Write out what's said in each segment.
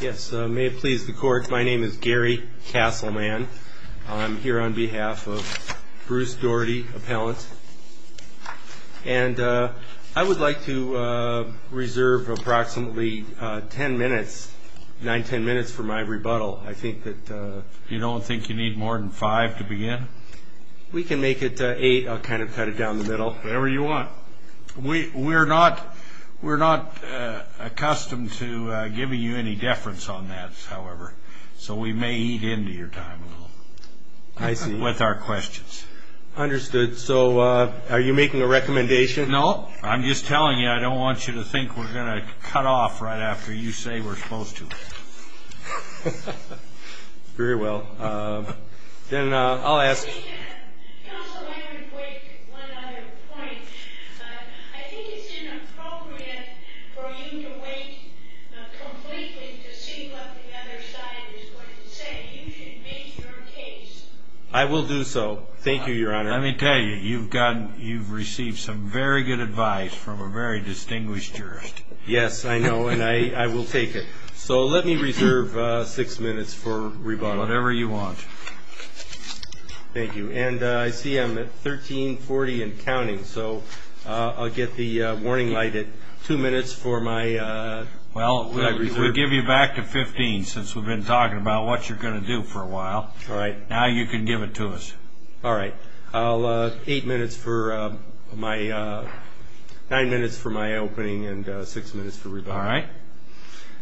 Yes, may it please the court. My name is Gary Castleman. I'm here on behalf of Bruce Dougherty, appellant, and I would like to reserve approximately ten minutes, nine, ten minutes for my rebuttal. I think that... You don't think you need more than five to begin? We can make it eight. I'll kind of cut it down the on that, however, so we may eat into your time a little. I see. With our questions. Understood. So are you making a recommendation? No, I'm just telling you I don't want you to think we're going to cut off right after you say we're Counsel, I would make one other point. I think it's inappropriate for you to wait completely to see what the other side is going to say. You should make your case. I will do so. Thank you, Your Honor. Let me tell you, you've gotten, you've received some very good advice from a very distinguished jurist. Yes, I know, and I Thank you. And I see I'm at 1340 and counting, so I'll get the warning light at two minutes for my... Well, we'll give you back to 15, since we've been talking about what you're going to do for a while. All right. Now you can give it to us. All right. I'll... Eight minutes for my... Nine minutes for my opening and six minutes for rebuttal.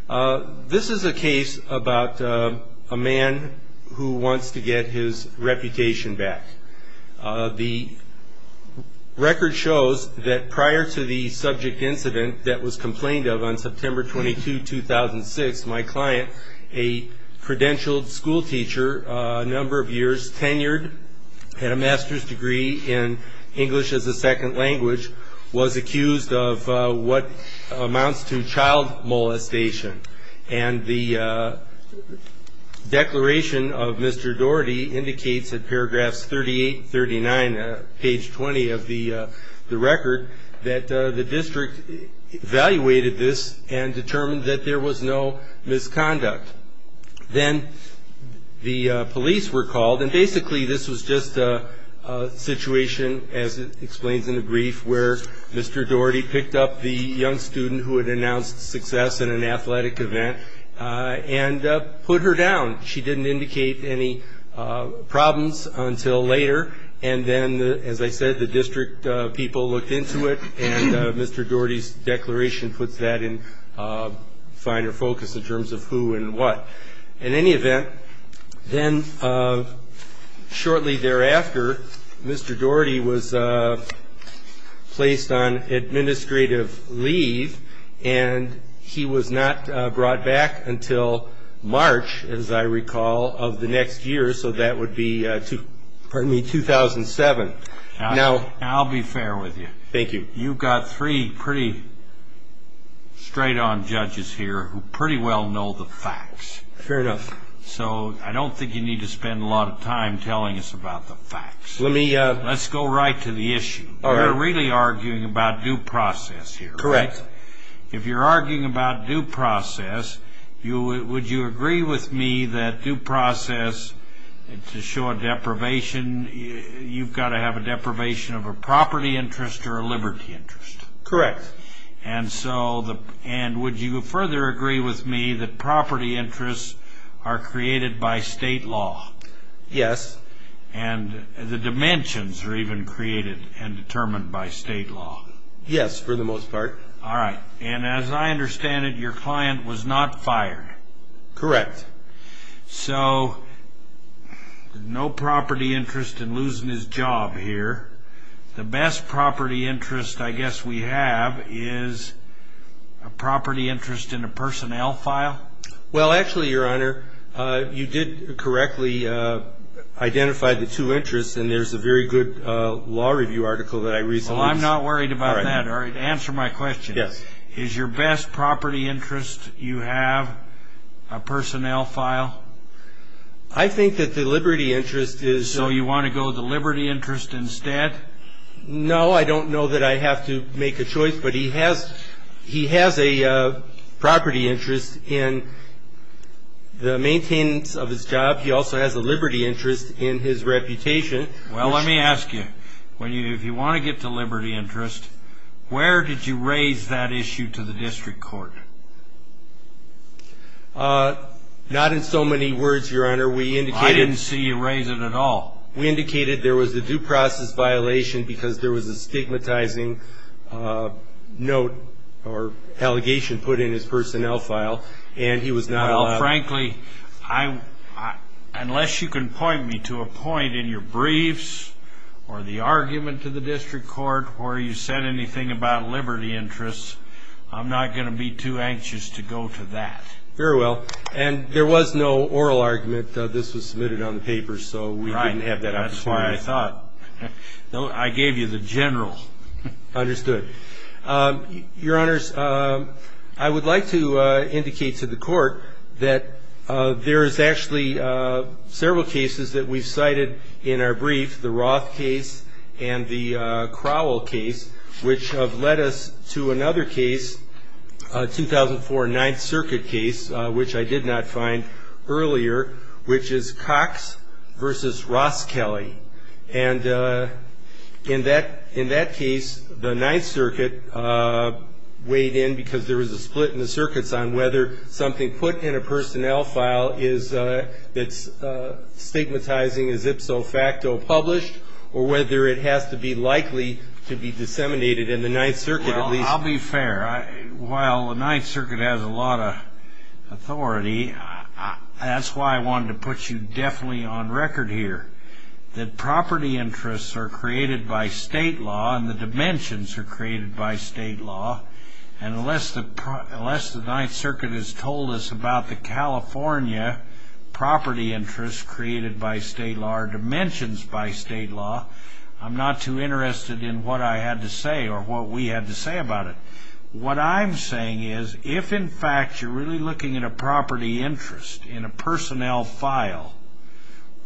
All right. This is a case about a man who wants to get his reputation back. The record shows that prior to the subject incident that was complained of on September 22, 2006, my client, a credentialed school teacher, a number of years, tenured, had a master's degree in English as a second language, was accused of what amounts to child molestation. And the declaration of Mr. Daugherty indicates in paragraphs 38 and 39, page 20 of the record, that the district evaluated this and determined that there was no misconduct. Then the police were called, and basically this was just a situation, as it explains in the brief, where Mr. Daugherty picked up the young student who had announced success in an athletic event and put her down. She didn't indicate any problems until later, and then, as I said, the district people looked into it, and Mr. Daugherty's declaration puts that in finer focus in terms of who and what. In any event, then shortly thereafter, Mr. Daugherty was placed on administrative leave, and he was not brought back until March, as I recall, of the next year, so that would be 2007. Now, I'll be fair with you. You've got three pretty straight-on judges here who pretty well know the facts. So I don't think you need to spend a lot of time telling us about the facts. Let's go right to the issue. You're really arguing about due process here, right? If you're arguing about due process, would you agree with me that due process, to show a deprivation, you've got to have a deprivation of a property interest or a liberty interest? Correct. And would you further agree with me that property interests are created by state law? Yes. And the dimensions are even created and determined by state law? Yes, for the most part. All right. And as I understand it, your client was not fired? Correct. So, no property interest in losing his job here. The best property interest I guess we have is a property interest in a personnel file? Well, actually, Your Honor, you did correctly identify the two interests, and there's a very good law review article that I read. Well, I'm not worried about that. All right, answer my question. Yes. Is your best property interest you have a personnel file? I think that the liberty interest is... So you want to go the liberty interest instead? No, I don't know that I have to make a choice, but he has a property interest in the maintenance of his job. He also has a liberty interest in his reputation. Well, let me ask you, if you want to get to liberty interest, where did you raise that issue to the district court? Not in so many words, Your Honor. We indicated... I didn't see you raise it at all. We indicated there was a due process violation because there was a stigmatizing note or allegation put in his personnel file, and he was not allowed... Frankly, unless you can point me to a point in your briefs or the argument to the district court where you said anything about liberty interests, I'm not going to be too anxious to go to that. Very well, and there was no oral argument. This was submitted on the paper, so we didn't have that opportunity. Right, that's why I thought. I gave you the general. Understood. Your Honors, I would like to indicate to the court that there is actually several cases that we've cited in our brief, the Roth case and the Crowell case, which have led us to another case, 2004 Ninth Circuit case, which I did not find earlier, which is Cox v. Ross Kelly. And in that case, the Ninth Circuit weighed in because there was a split in the circuits on whether something put in a personnel file that's stigmatizing is ipso facto published or whether it has to be likely to be disseminated in the Ninth Circuit. Well, I'll be fair. While the Ninth Circuit has a lot of authority, that's why I wanted to put you definitely on record here that property interests are created by state law and the dimensions are created by state law, and unless the Ninth Circuit has told us about the California property interests created by state law or dimensions by state law, I'm not too interested in what I had to say or what we had to say about it. What I'm saying is, if in fact you're really looking at a property interest in a personnel file,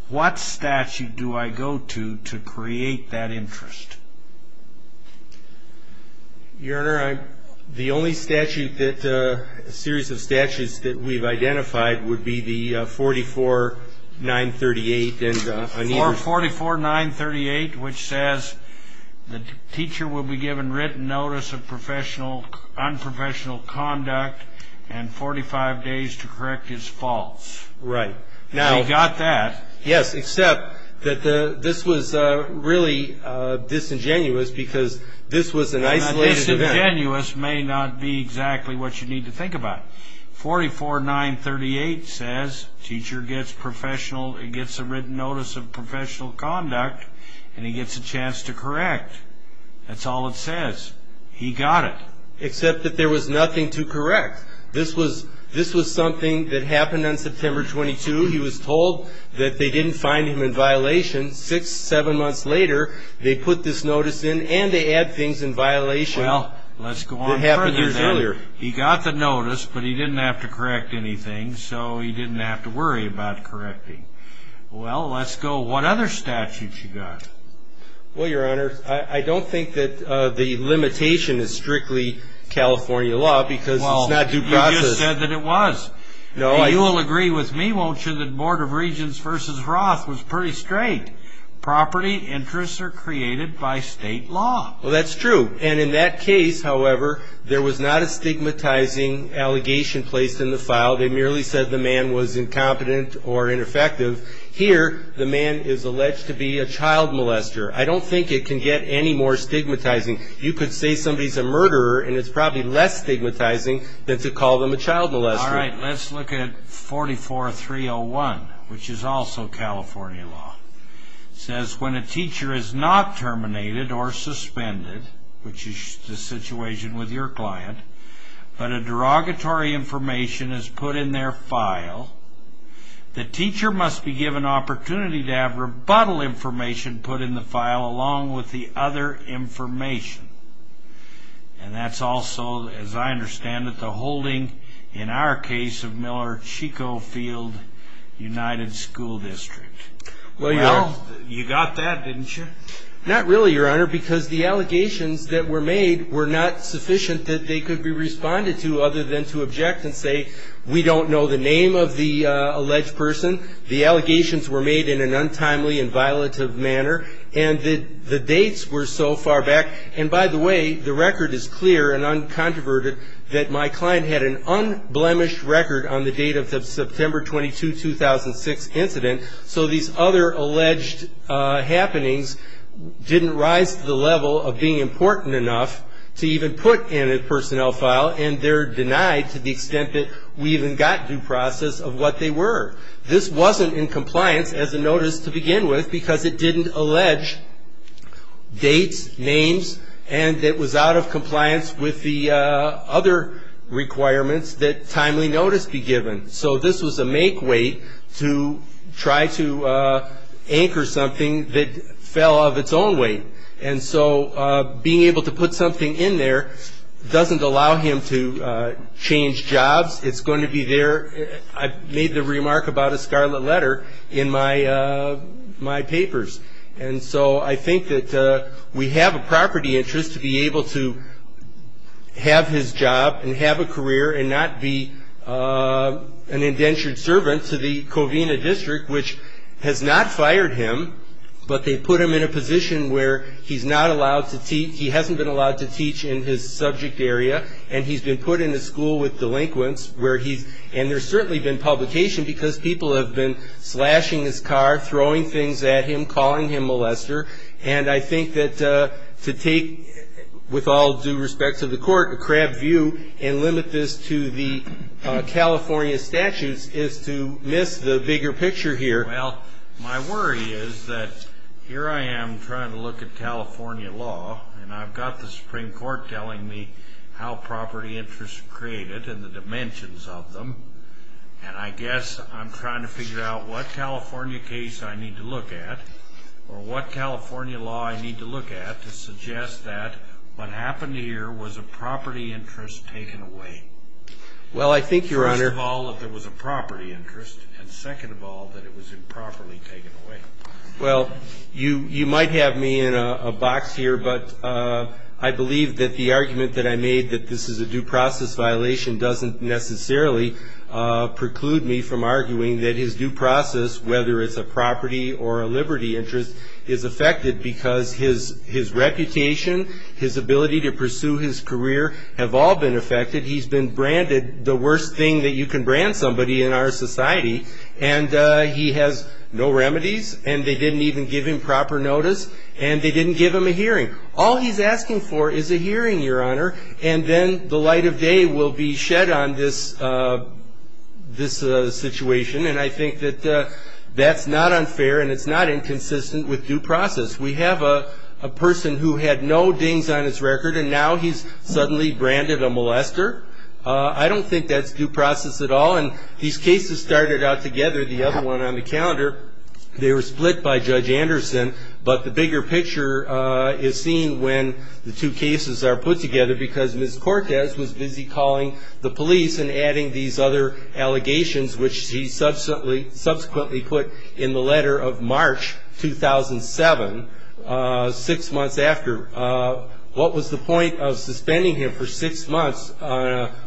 what statute do I go to to create that interest? Your Honor, the only statute that, a series of statutes that we've identified would be the 44-938. 44-938, which says the teacher will be given written notice of professional, unprofessional conduct and 45 days to correct his faults. Right. We got that. Yes, except that this was really disingenuous because this was an isolated event. Disingenuous may not be exactly what you need to think about. 44-938 says teacher gets professional, gets a written notice of professional conduct and he gets a chance to correct. That's all it says. He got it. Except that there was nothing to correct. This was something that happened on September 22. He was told that they didn't find him in violation. Six, seven months later, they put this notice in and they add things in violation that happened years earlier. Well, let's go on further then. He got the notice, but he didn't have to correct anything, so he didn't have to worry about correcting. Well, let's go, what other statutes you got? Well, Your Honor, I don't think that the limitation is strictly California law because it's not due process. Well, you just said that it was. No, I... You will agree with me, won't you, that Board of Regents v. Roth was pretty straight. Property interests are created by state law. Well, that's true. And in that case, however, there was not a stigmatizing allegation placed in the file. They merely said the man was incompetent or ineffective. Here, the man is alleged to be a child molester. I don't think it can get any more stigmatizing. You could say somebody's a murderer and it's probably less stigmatizing than to call them a child molester. All right, let's look at 44-301, which is also California law. It says, when a teacher is not terminated or suspended, which is the situation with your client, but a derogatory information is put in their file, the teacher must be given opportunity to have rebuttal information put in the file along with the other information. And that's also, as I understand it, the holding, in our case, of Miller-Chico Field United School District. Well, Your Honor... You got that, didn't you? Not really, Your Honor, because the allegations that were made were not sufficient that they could be responded to other than to object and say, we don't know the name of the alleged person. The allegations were made in an untimely and violative manner. And the dates were so far back. And by the way, the record is clear and uncontroverted that my client had an unblemished record on the date of the September 22, 2006 incident. So these other alleged happenings didn't rise to the level of being important enough to even put in a personnel file. And they're denied to the extent that we even got due process of what they were. This wasn't in compliance as a notice to begin with because it didn't allege dates, names, and it was out of compliance with the other requirements that timely notice be given. So this was a make way to try to anchor something that fell of its own weight. And so being able to put something in there doesn't allow him to change jobs. It's going to be there. I made the remark about a scarlet letter in my papers. And so I think that we have a property interest to be able to have his job and have a career and not be an indentured servant to the Covina district, which has not fired him. But they put him in a position where he's not allowed to teach. He hasn't been allowed to teach in his subject area. And he's been put in a school with delinquents. And there's certainly been publication because people have been slashing his car, throwing things at him, calling him a molester. And I think that to take, with all due respect to the court, a crab view and limit this to the California statutes is to miss the bigger picture here. Well, my worry is that here I am trying to look at California law, and I've got the Supreme Court telling me how property interests are created and the dimensions of them. And I guess I'm trying to figure out what California case I need to look at or what California law I need to look at to suggest that what happened here was a property interest taken away. Well, I think, Your Honor. First of all, that there was a property interest. And second of all, that it was improperly taken away. Well, you might have me in a box here, but I believe that the argument that I made that this is a due process violation doesn't necessarily preclude me from arguing that his due process, whether it's a property or a liberty interest, is affected because his reputation, his ability to pursue his career, have all been affected. He's been branded the worst thing that you can brand somebody in our society. And he has no remedies, and they didn't even give him proper notice, and they didn't give him a hearing. All he's asking for is a hearing, Your Honor, and then the light of day will be shed on this situation. And I think that that's not unfair, and it's not inconsistent with due process. We have a person who had no dings on his record, and now he's suddenly branded a molester. I don't think that's due process at all. And these cases started out together, the other one on the calendar, they were split by Judge Anderson. But the bigger picture is seen when the two cases are put together, because Ms. Cortez was busy calling the police and adding these other allegations, which she subsequently put in the letter of March 2007, six months after. What was the point of suspending him for six months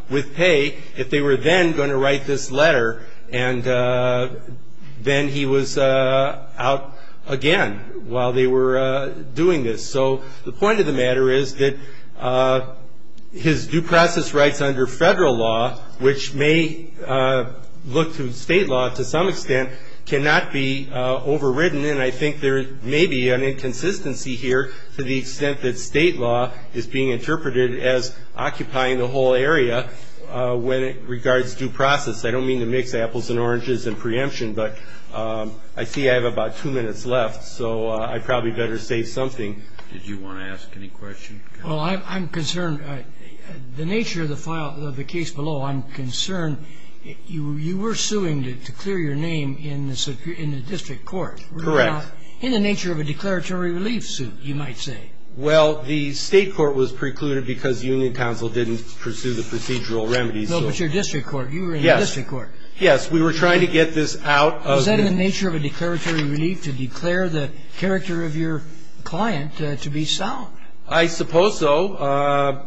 with pay if they were then going to write this letter, and then he was out again while they were doing this? So the point of the matter is that his due process rights under federal law, which may look to state law to some extent, cannot be overridden. And then I think there may be an inconsistency here to the extent that state law is being interpreted as occupying the whole area when it regards due process. I don't mean to mix apples and oranges in preemption, but I see I have about two minutes left, so I probably better say something. Did you want to ask any questions? Well, I'm concerned. The nature of the case below, I'm concerned. You were suing to clear your name in the district court. Correct. In the nature of a declaratory relief suit, you might say. Well, the state court was precluded because the union council didn't pursue the procedural remedies. No, but your district court. You were in the district court. Yes, we were trying to get this out. Was that in the nature of a declaratory relief to declare the character of your client to be sound? I suppose so.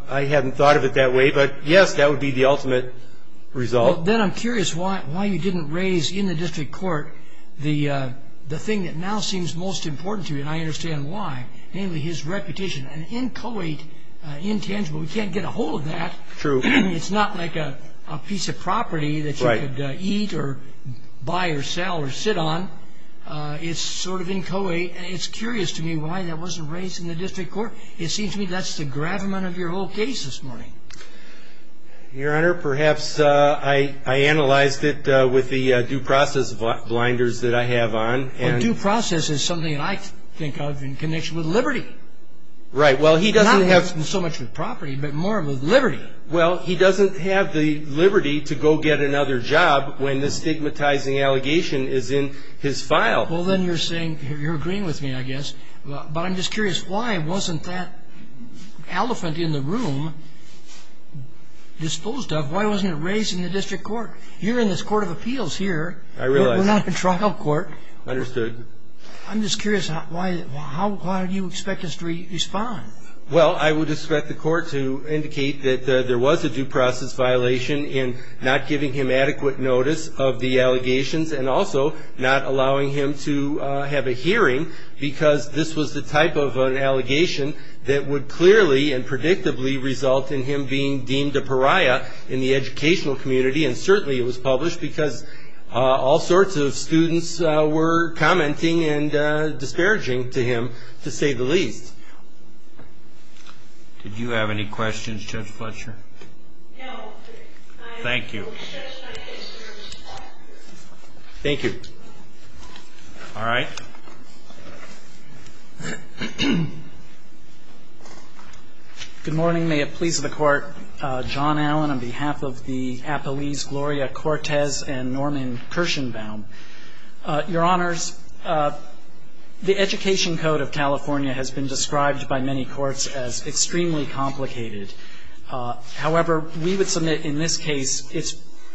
I hadn't thought of it that way, but yes, that would be the ultimate result. Then I'm curious why you didn't raise in the district court the thing that now seems most important to you, and I understand why, namely his reputation. Intangible. We can't get a hold of that. True. It's not like a piece of property that you could eat or buy or sell or sit on. It's sort of inchoate. It's curious to me why that wasn't raised in the district court. It seems to me that's the gravamen of your whole case this morning. Your Honor, perhaps I analyzed it with the due process blinders that I have on. A due process is something that I think of in connection with liberty. Right. Not so much with property, but more with liberty. Well, he doesn't have the liberty to go get another job when the stigmatizing allegation is in his file. Well, then you're agreeing with me, I guess. But I'm just curious, why wasn't that elephant in the room disposed of? Why wasn't it raised in the district court? You're in this court of appeals here. I realize. We're not in trial court. Understood. I'm just curious, why do you expect us to respond? Well, I would expect the court to indicate that there was a due process violation in not giving him adequate notice of the allegations and also not allowing him to have a hearing because this was the type of an allegation that would clearly and predictably result in him being deemed a pariah in the educational community. And certainly it was published because all sorts of students were commenting and disparaging to him, to say the least. Did you have any questions, Judge Fletcher? No. Thank you. Thank you. All right. Good morning. May it please the Court. John Allen on behalf of the Appellees Gloria Cortez and Norman Kirshenbaum. Your Honors, the Education Code of California has been described by many courts as extremely complicated. However, we would submit in this case it's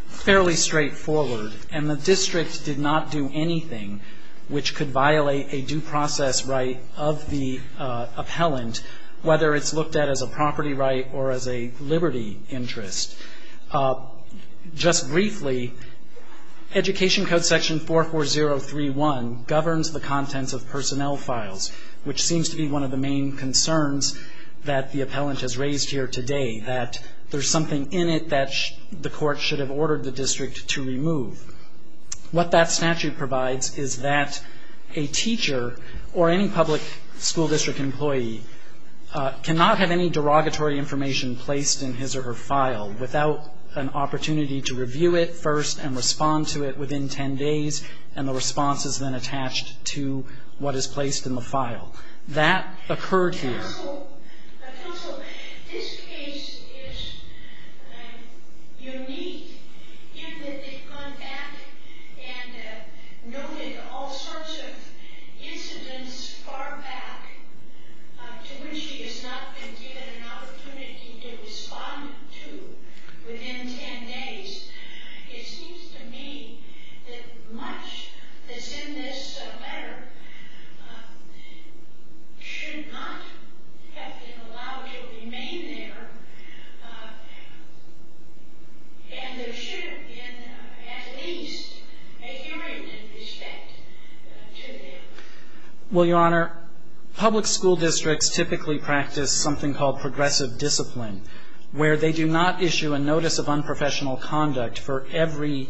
fairly straightforward. And the district did not do anything which could violate a due process right of the appellant, whether it's looked at as a property right or as a liberty interest. Just briefly, Education Code Section 44031 governs the contents of personnel files, which seems to be one of the main concerns that the appellant has raised here today, that there's something in it that the court should have ordered the district to remove. What that statute provides is that a teacher or any public school district employee cannot have any derogatory information placed in his or her file without an opportunity to review it first and respond to it within ten days, and the response is then attached to what is placed in the file. That occurred here. Counsel, this case is unique in that they've gone back and noted all sorts of incidents far back to which he has not been given an opportunity to respond to within ten days. It seems to me that much that's in this letter should not have been allowed to remain there, and there should have been at least a hearing in respect to that. Well, Your Honor, public school districts typically practice something called progressive discipline, where they do not issue a notice of unprofessional conduct for every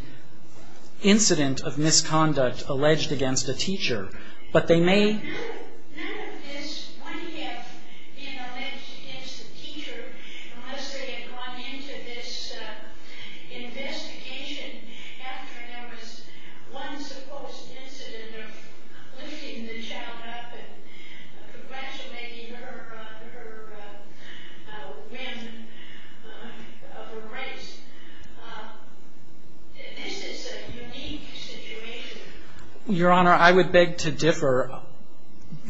incident of misconduct alleged against a teacher, but they may... None of this would have been alleged against the teacher unless they had gone into this investigation after there was one supposed incident of lifting the child up and progressivating her on the rim of a race. This is a unique situation. Your Honor, I would beg to differ.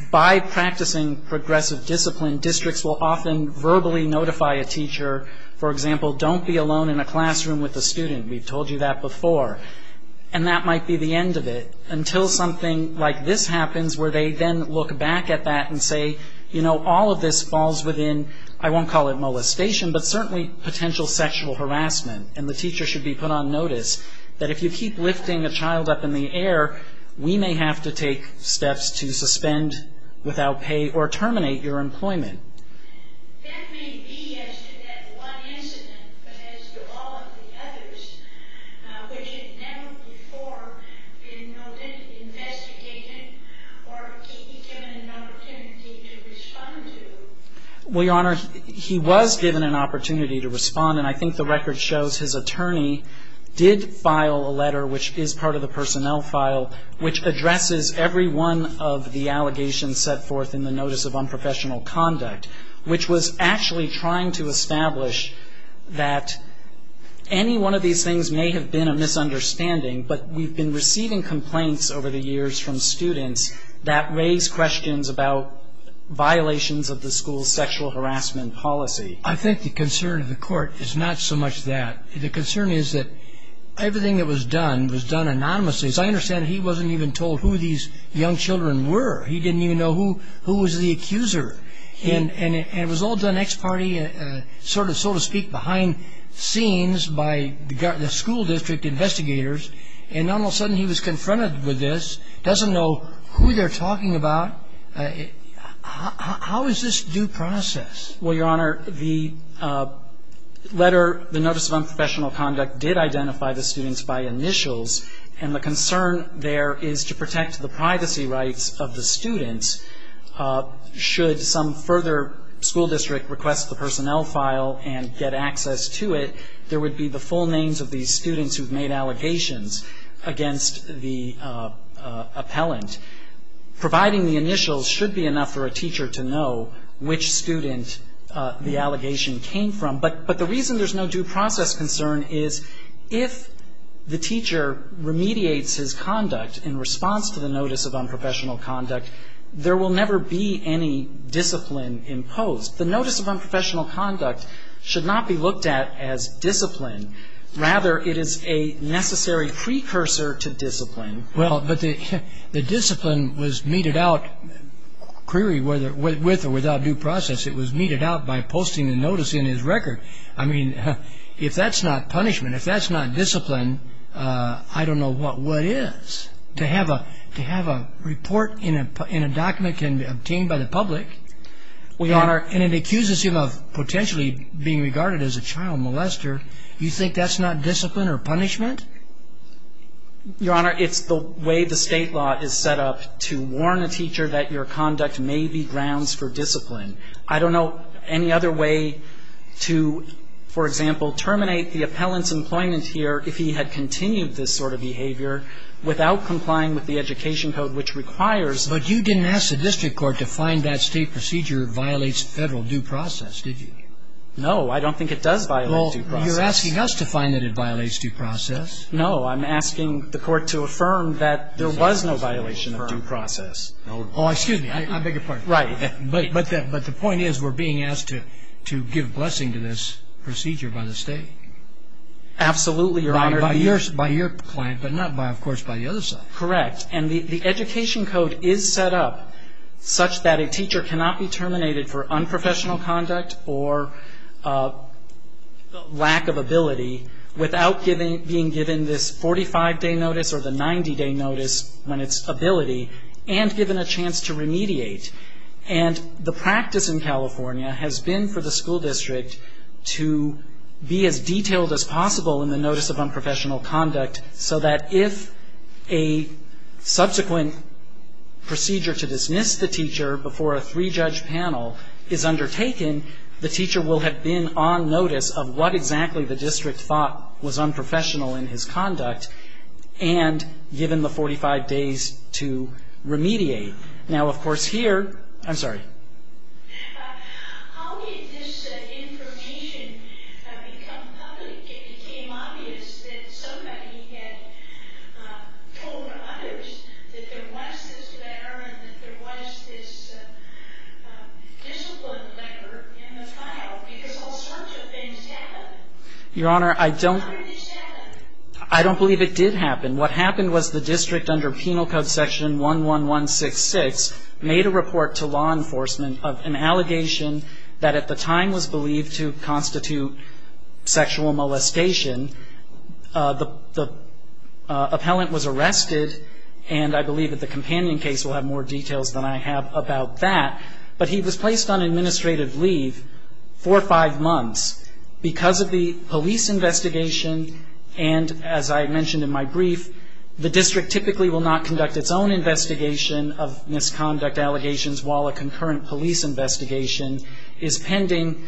By practicing progressive discipline, districts will often verbally notify a teacher. For example, don't be alone in a classroom with a student. We've told you that before, and that might be the end of it, until something like this happens where they then look back at that and say, you know, all of this falls within, I won't call it molestation, but certainly potential sexual harassment, and the teacher should be put on notice that if you keep lifting a child up in the air, we may have to take steps to suspend, without pay, or terminate your employment. That may be as to that one incident, but as to all of the others, which had never before been noted, investigated, or given an opportunity to respond to? Well, Your Honor, he was given an opportunity to respond, and I think the record shows his attorney did file a letter, which is part of the personnel file, which addresses every one of the allegations set forth in the Notice of Unprofessional Conduct, which was actually trying to establish that any one of these things may have been a misunderstanding, but we've been receiving complaints over the years from students that raise questions about violations of the school's sexual harassment policy. I think the concern of the court is not so much that. The concern is that everything that was done was done anonymously. As I understand it, he wasn't even told who these young children were. He didn't even know who was the accuser. And it was all done ex parte, sort of, so to speak, behind scenes by the school district investigators, and all of a sudden he was confronted with this, doesn't know who they're talking about. How is this due process? Well, Your Honor, the letter, the Notice of Unprofessional Conduct did identify the students by initials, and the concern there is to protect the privacy rights of the students. Should some further school district request the personnel file and get access to it, there would be the full names of these students who've made allegations against the appellant. Providing the initials should be enough for a teacher to know which student the allegation came from. But the reason there's no due process concern is if the teacher remediates his conduct in response to the Notice of Unprofessional Conduct, there will never be any discipline imposed. The Notice of Unprofessional Conduct should not be looked at as discipline. Rather, it is a necessary precursor to discipline. Well, but the discipline was meted out, query, with or without due process. It was meted out by posting the notice in his record. I mean, if that's not punishment, if that's not discipline, I don't know what is. To have a report in a document obtained by the public, and it accuses him of potentially being regarded as a child molester, you think that's not discipline or punishment? Your Honor, it's the way the state law is set up to warn a teacher that your conduct may be grounds for discipline. I don't know any other way to, for example, terminate the appellant's employment here if he had continued this sort of behavior without complying with the Education Code, which requires that he be punished. But you didn't ask the district court to find that state procedure violates Federal due process, did you? No, I don't think it does violate due process. Well, you're asking us to find that it violates due process. No, I'm asking the court to affirm that there was no violation of due process. Oh, excuse me. I beg your pardon. But the point is we're being asked to give blessing to this procedure by the state. Absolutely, Your Honor. By your client, but not, of course, by the other side. Correct. And the Education Code is set up such that a teacher cannot be terminated for unprofessional conduct or lack of ability without being given this 45-day notice or the 90-day notice when it's ability and given a chance to remediate. And the practice in California has been for the school district to be as detailed as possible in the notice of unprofessional conduct so that if a subsequent procedure to dismiss the teacher before a three-judge panel is undertaken, the teacher will have been on notice of what exactly the district thought was unprofessional in his conduct and given the 45 days to remediate. Now, of course, here — I'm sorry. How did this information become public? It became obvious that somebody had told others that there was this letter and that there was this discipline letter in the file because all sorts of things happened. Your Honor, I don't — How did this happen? I don't believe it did happen. What happened was the district, under Penal Code Section 11166, made a report to law enforcement of an allegation that at the time was believed to constitute sexual molestation. The appellant was arrested, and I believe that the companion case will have more details than I have about that. But he was placed on administrative leave for five months because of the police investigation and, as I mentioned in my brief, the district typically will not conduct its own investigation of misconduct allegations while a concurrent police investigation is pending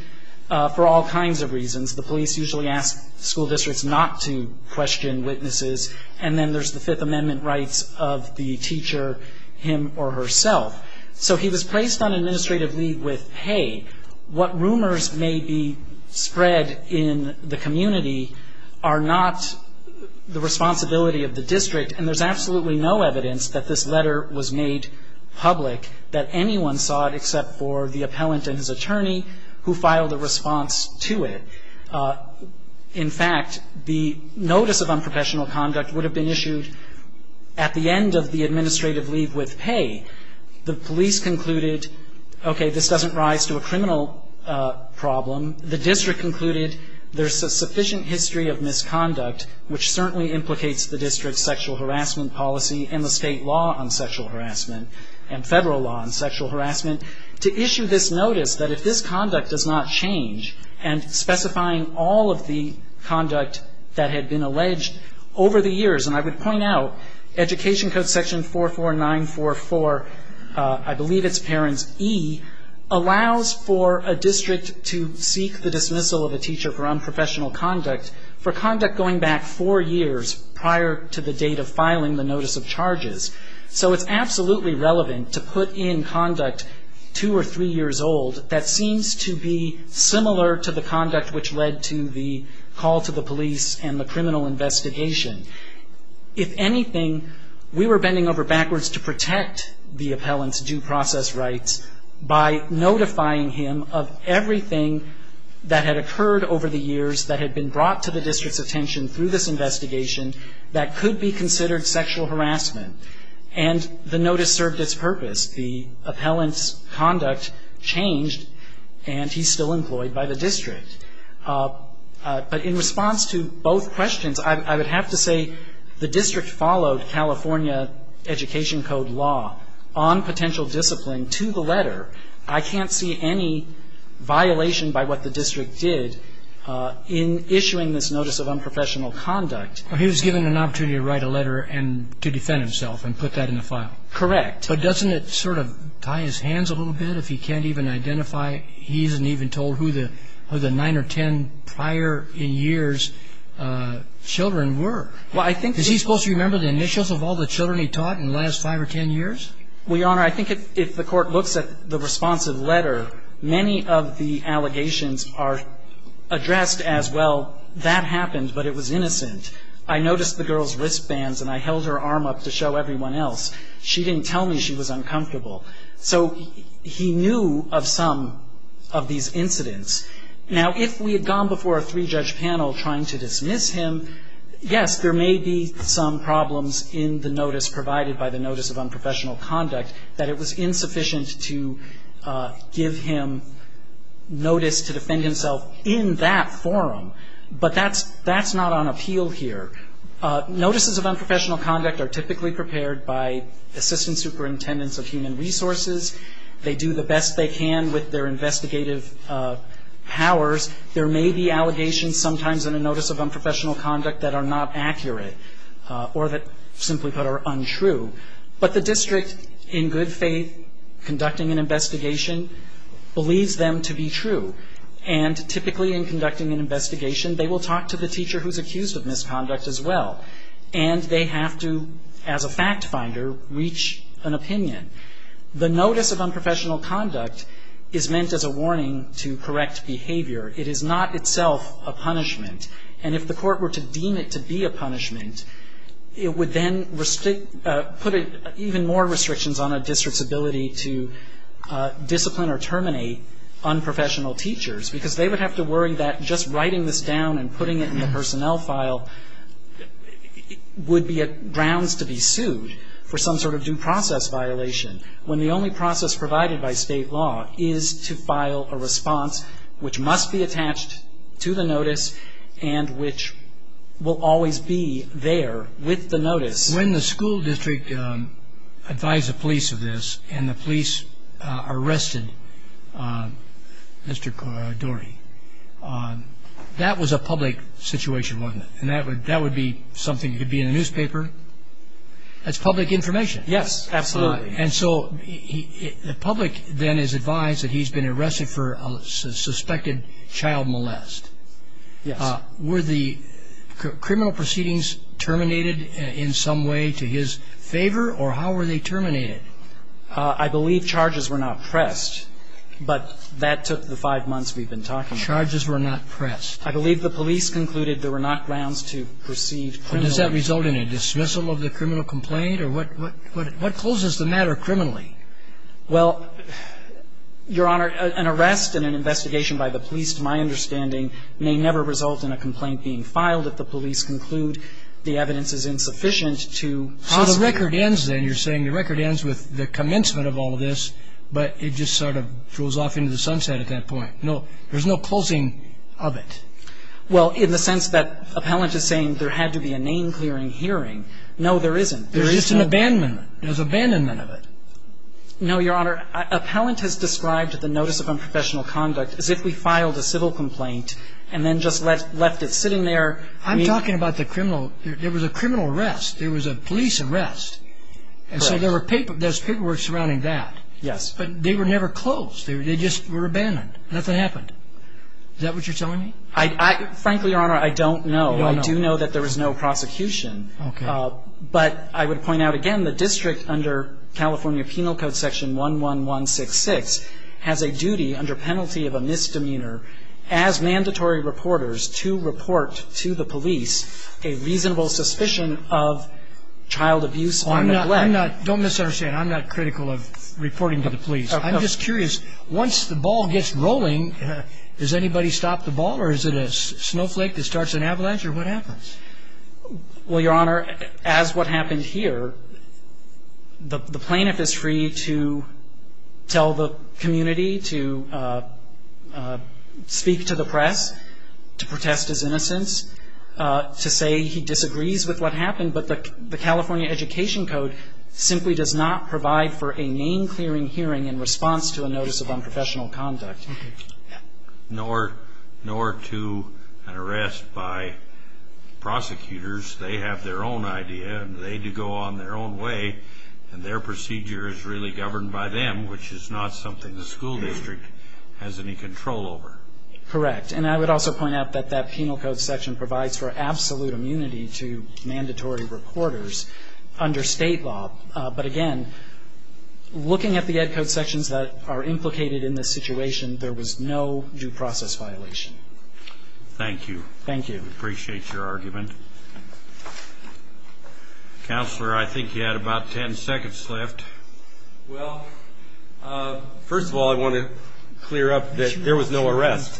for all kinds of reasons. The police usually ask school districts not to question witnesses, and then there's the Fifth Amendment rights of the teacher, him or herself. So he was placed on administrative leave with pay. What rumors may be spread in the community are not the responsibility of the district, and there's absolutely no evidence that this letter was made public, that anyone saw it except for the appellant and his attorney who filed a response to it. In fact, the notice of unprofessional conduct would have been issued at the end of the administrative leave with pay. The police concluded, okay, this doesn't rise to a criminal problem. The district concluded there's a sufficient history of misconduct, which certainly implicates the district's sexual harassment policy and the state law on sexual harassment and federal law on sexual harassment, to issue this notice that if this conduct does not change and specifying all of the conduct that had been alleged over the years, and I would point out Education Code section 44944, I believe it's parents E, allows for a district to seek the dismissal of a teacher for unprofessional conduct for conduct going back four years prior to the date of filing the notice of charges. So it's absolutely relevant to put in conduct two or three years old that seems to be similar to the conduct which led to the call to the police and the criminal investigation. If anything, we were bending over backwards to protect the appellant's due process rights by notifying him of everything that had occurred over the years that had been brought to the district's attention through this investigation that could be considered sexual harassment, and the notice served its purpose. The appellant's conduct changed, and he's still employed by the district. But in response to both questions, I would have to say the district followed California Education Code law on potential discipline to the letter. I can't see any violation by what the district did in issuing this notice of unprofessional conduct. Well, he was given an opportunity to write a letter and to defend himself and put that in the file. Correct. But doesn't it sort of tie his hands a little bit if he can't even identify, he isn't even told who the nine or ten prior in years children were? Is he supposed to remember the initials of all the children he taught in the last five or ten years? Well, Your Honor, I think if the court looks at the responsive letter, many of the allegations are addressed as, well, that happened, but it was innocent. I noticed the girl's wristbands, and I held her arm up to show everyone else. She didn't tell me she was uncomfortable. So he knew of some of these incidents. Now, if we had gone before a three-judge panel trying to dismiss him, yes, there may be some problems in the notice provided by the notice of unprofessional conduct that it was insufficient to give him notice to defend himself in that forum. But that's not on appeal here. Notices of unprofessional conduct are typically prepared by assistant superintendents of human resources. They do the best they can with their investigative powers. There may be allegations sometimes in a notice of unprofessional conduct that are not accurate or that, simply put, are untrue. But the district, in good faith, conducting an investigation, believes them to be true. And typically in conducting an investigation, they will talk to the teacher who's accused of misconduct as well. And they have to, as a fact finder, reach an opinion. The notice of unprofessional conduct is meant as a warning to correct behavior. It is not itself a punishment. And if the court were to deem it to be a punishment, it would then put even more restrictions on a district's ability to discipline or terminate unprofessional teachers, because they would have to worry that just writing this down and putting it in the personnel file would be grounds to be sued for some sort of due process violation, when the only process provided by State law is to file a response which must be attached to the notice When the school district advised the police of this and the police arrested Mr. Dorey, that was a public situation, wasn't it? And that would be something that could be in a newspaper. That's public information. Yes, absolutely. And so the public then is advised that he's been arrested for a suspected child molest. Yes. Were the criminal proceedings terminated in some way to his favor, or how were they terminated? I believe charges were not pressed, but that took the five months we've been talking about. Charges were not pressed. I believe the police concluded there were not grounds to proceed criminally. But does that result in a dismissal of the criminal complaint? Or what closes the matter criminally? Well, Your Honor, an arrest and an investigation by the police, to my understanding, may never result in a complaint being filed if the police conclude the evidence is insufficient to How the record ends then? You're saying the record ends with the commencement of all of this, but it just sort of goes off into the sunset at that point. No, there's no closing of it. Well, in the sense that appellant is saying there had to be a name-clearing hearing. No, there isn't. There is an abandonment. There's abandonment of it. No, Your Honor. Appellant has described the notice of unprofessional conduct as if we filed a civil complaint and then just left it sitting there. I'm talking about the criminal. There was a criminal arrest. There was a police arrest. Correct. And so there was paperwork surrounding that. Yes. But they were never closed. They just were abandoned. Nothing happened. Is that what you're telling me? Frankly, Your Honor, I don't know. I do know that there was no prosecution. Okay. But I would point out again the district under California Penal Code Section 11166 has a duty under penalty of a misdemeanor as mandatory reporters to report to the police a reasonable suspicion of child abuse or neglect. Don't misunderstand. I'm not critical of reporting to the police. I'm just curious. Once the ball gets rolling, does anybody stop the ball or is it a snowflake that starts an avalanche or what happens? Well, Your Honor, as what happened here, the plaintiff is free to tell the community to speak to the press, to protest his innocence, to say he disagrees with what happened, but the California Education Code simply does not provide for a name-clearing hearing in response to a notice of unprofessional conduct. Nor to an arrest by prosecutors. They have their own idea and they do go on their own way, and their procedure is really governed by them, which is not something the school district has any control over. Correct. And I would also point out that that penal code section provides for absolute immunity to mandatory reporters under state law. But again, looking at the Ed Code sections that are implicated in this situation, there was no due process violation. Thank you. Thank you. Appreciate your argument. Counselor, I think you had about ten seconds left. Well, first of all, I want to clear up that there was no arrest.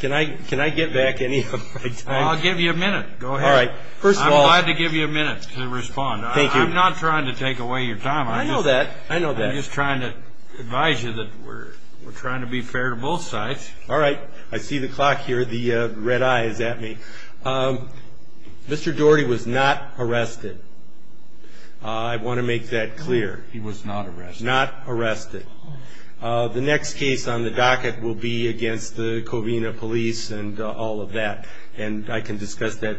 Can I get back any of my time? I'll give you a minute. Go ahead. All right. First of all. I'm glad to give you a minute to respond. Thank you. I'm not trying to take away your time. I know that. I know that. I'm just trying to advise you that we're trying to be fair to both sides. All right. I see the clock here. The red eye is at me. Mr. Doherty was not arrested. I want to make that clear. He was not arrested. Not arrested. The next case on the docket will be against the Covina Police and all of that, and I can discuss that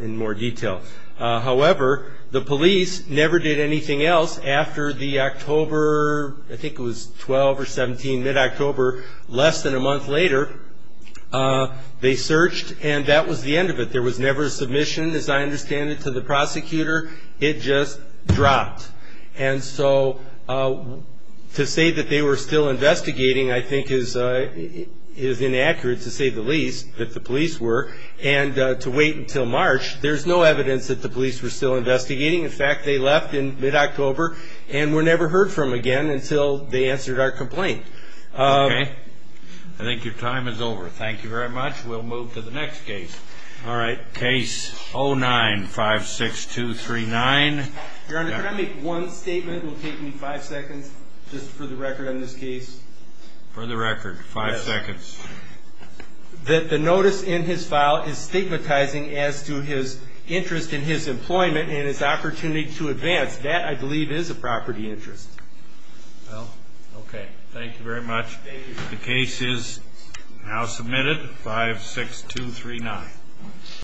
in more detail. However, the police never did anything else after the October, I think it was 12 or 17, mid-October, less than a month later, they searched, and that was the end of it. There was never a submission, as I understand it, to the prosecutor. It just dropped. And so to say that they were still investigating, I think, is inaccurate, to say the least, that the police were, and to wait until March. There's no evidence that the police were still investigating. In fact, they left in mid-October and were never heard from again until they answered our complaint. Okay. I think your time is over. Thank you very much. We'll move to the next case. All right. Case 09-56239. Your Honor, can I make one statement? It will take me five seconds just for the record on this case. For the record, five seconds. That the notice in his file is stigmatizing as to his interest in his employment and his opportunity to advance. That, I believe, is a property interest. Well, okay. Thank you very much. The case is now submitted, 56239.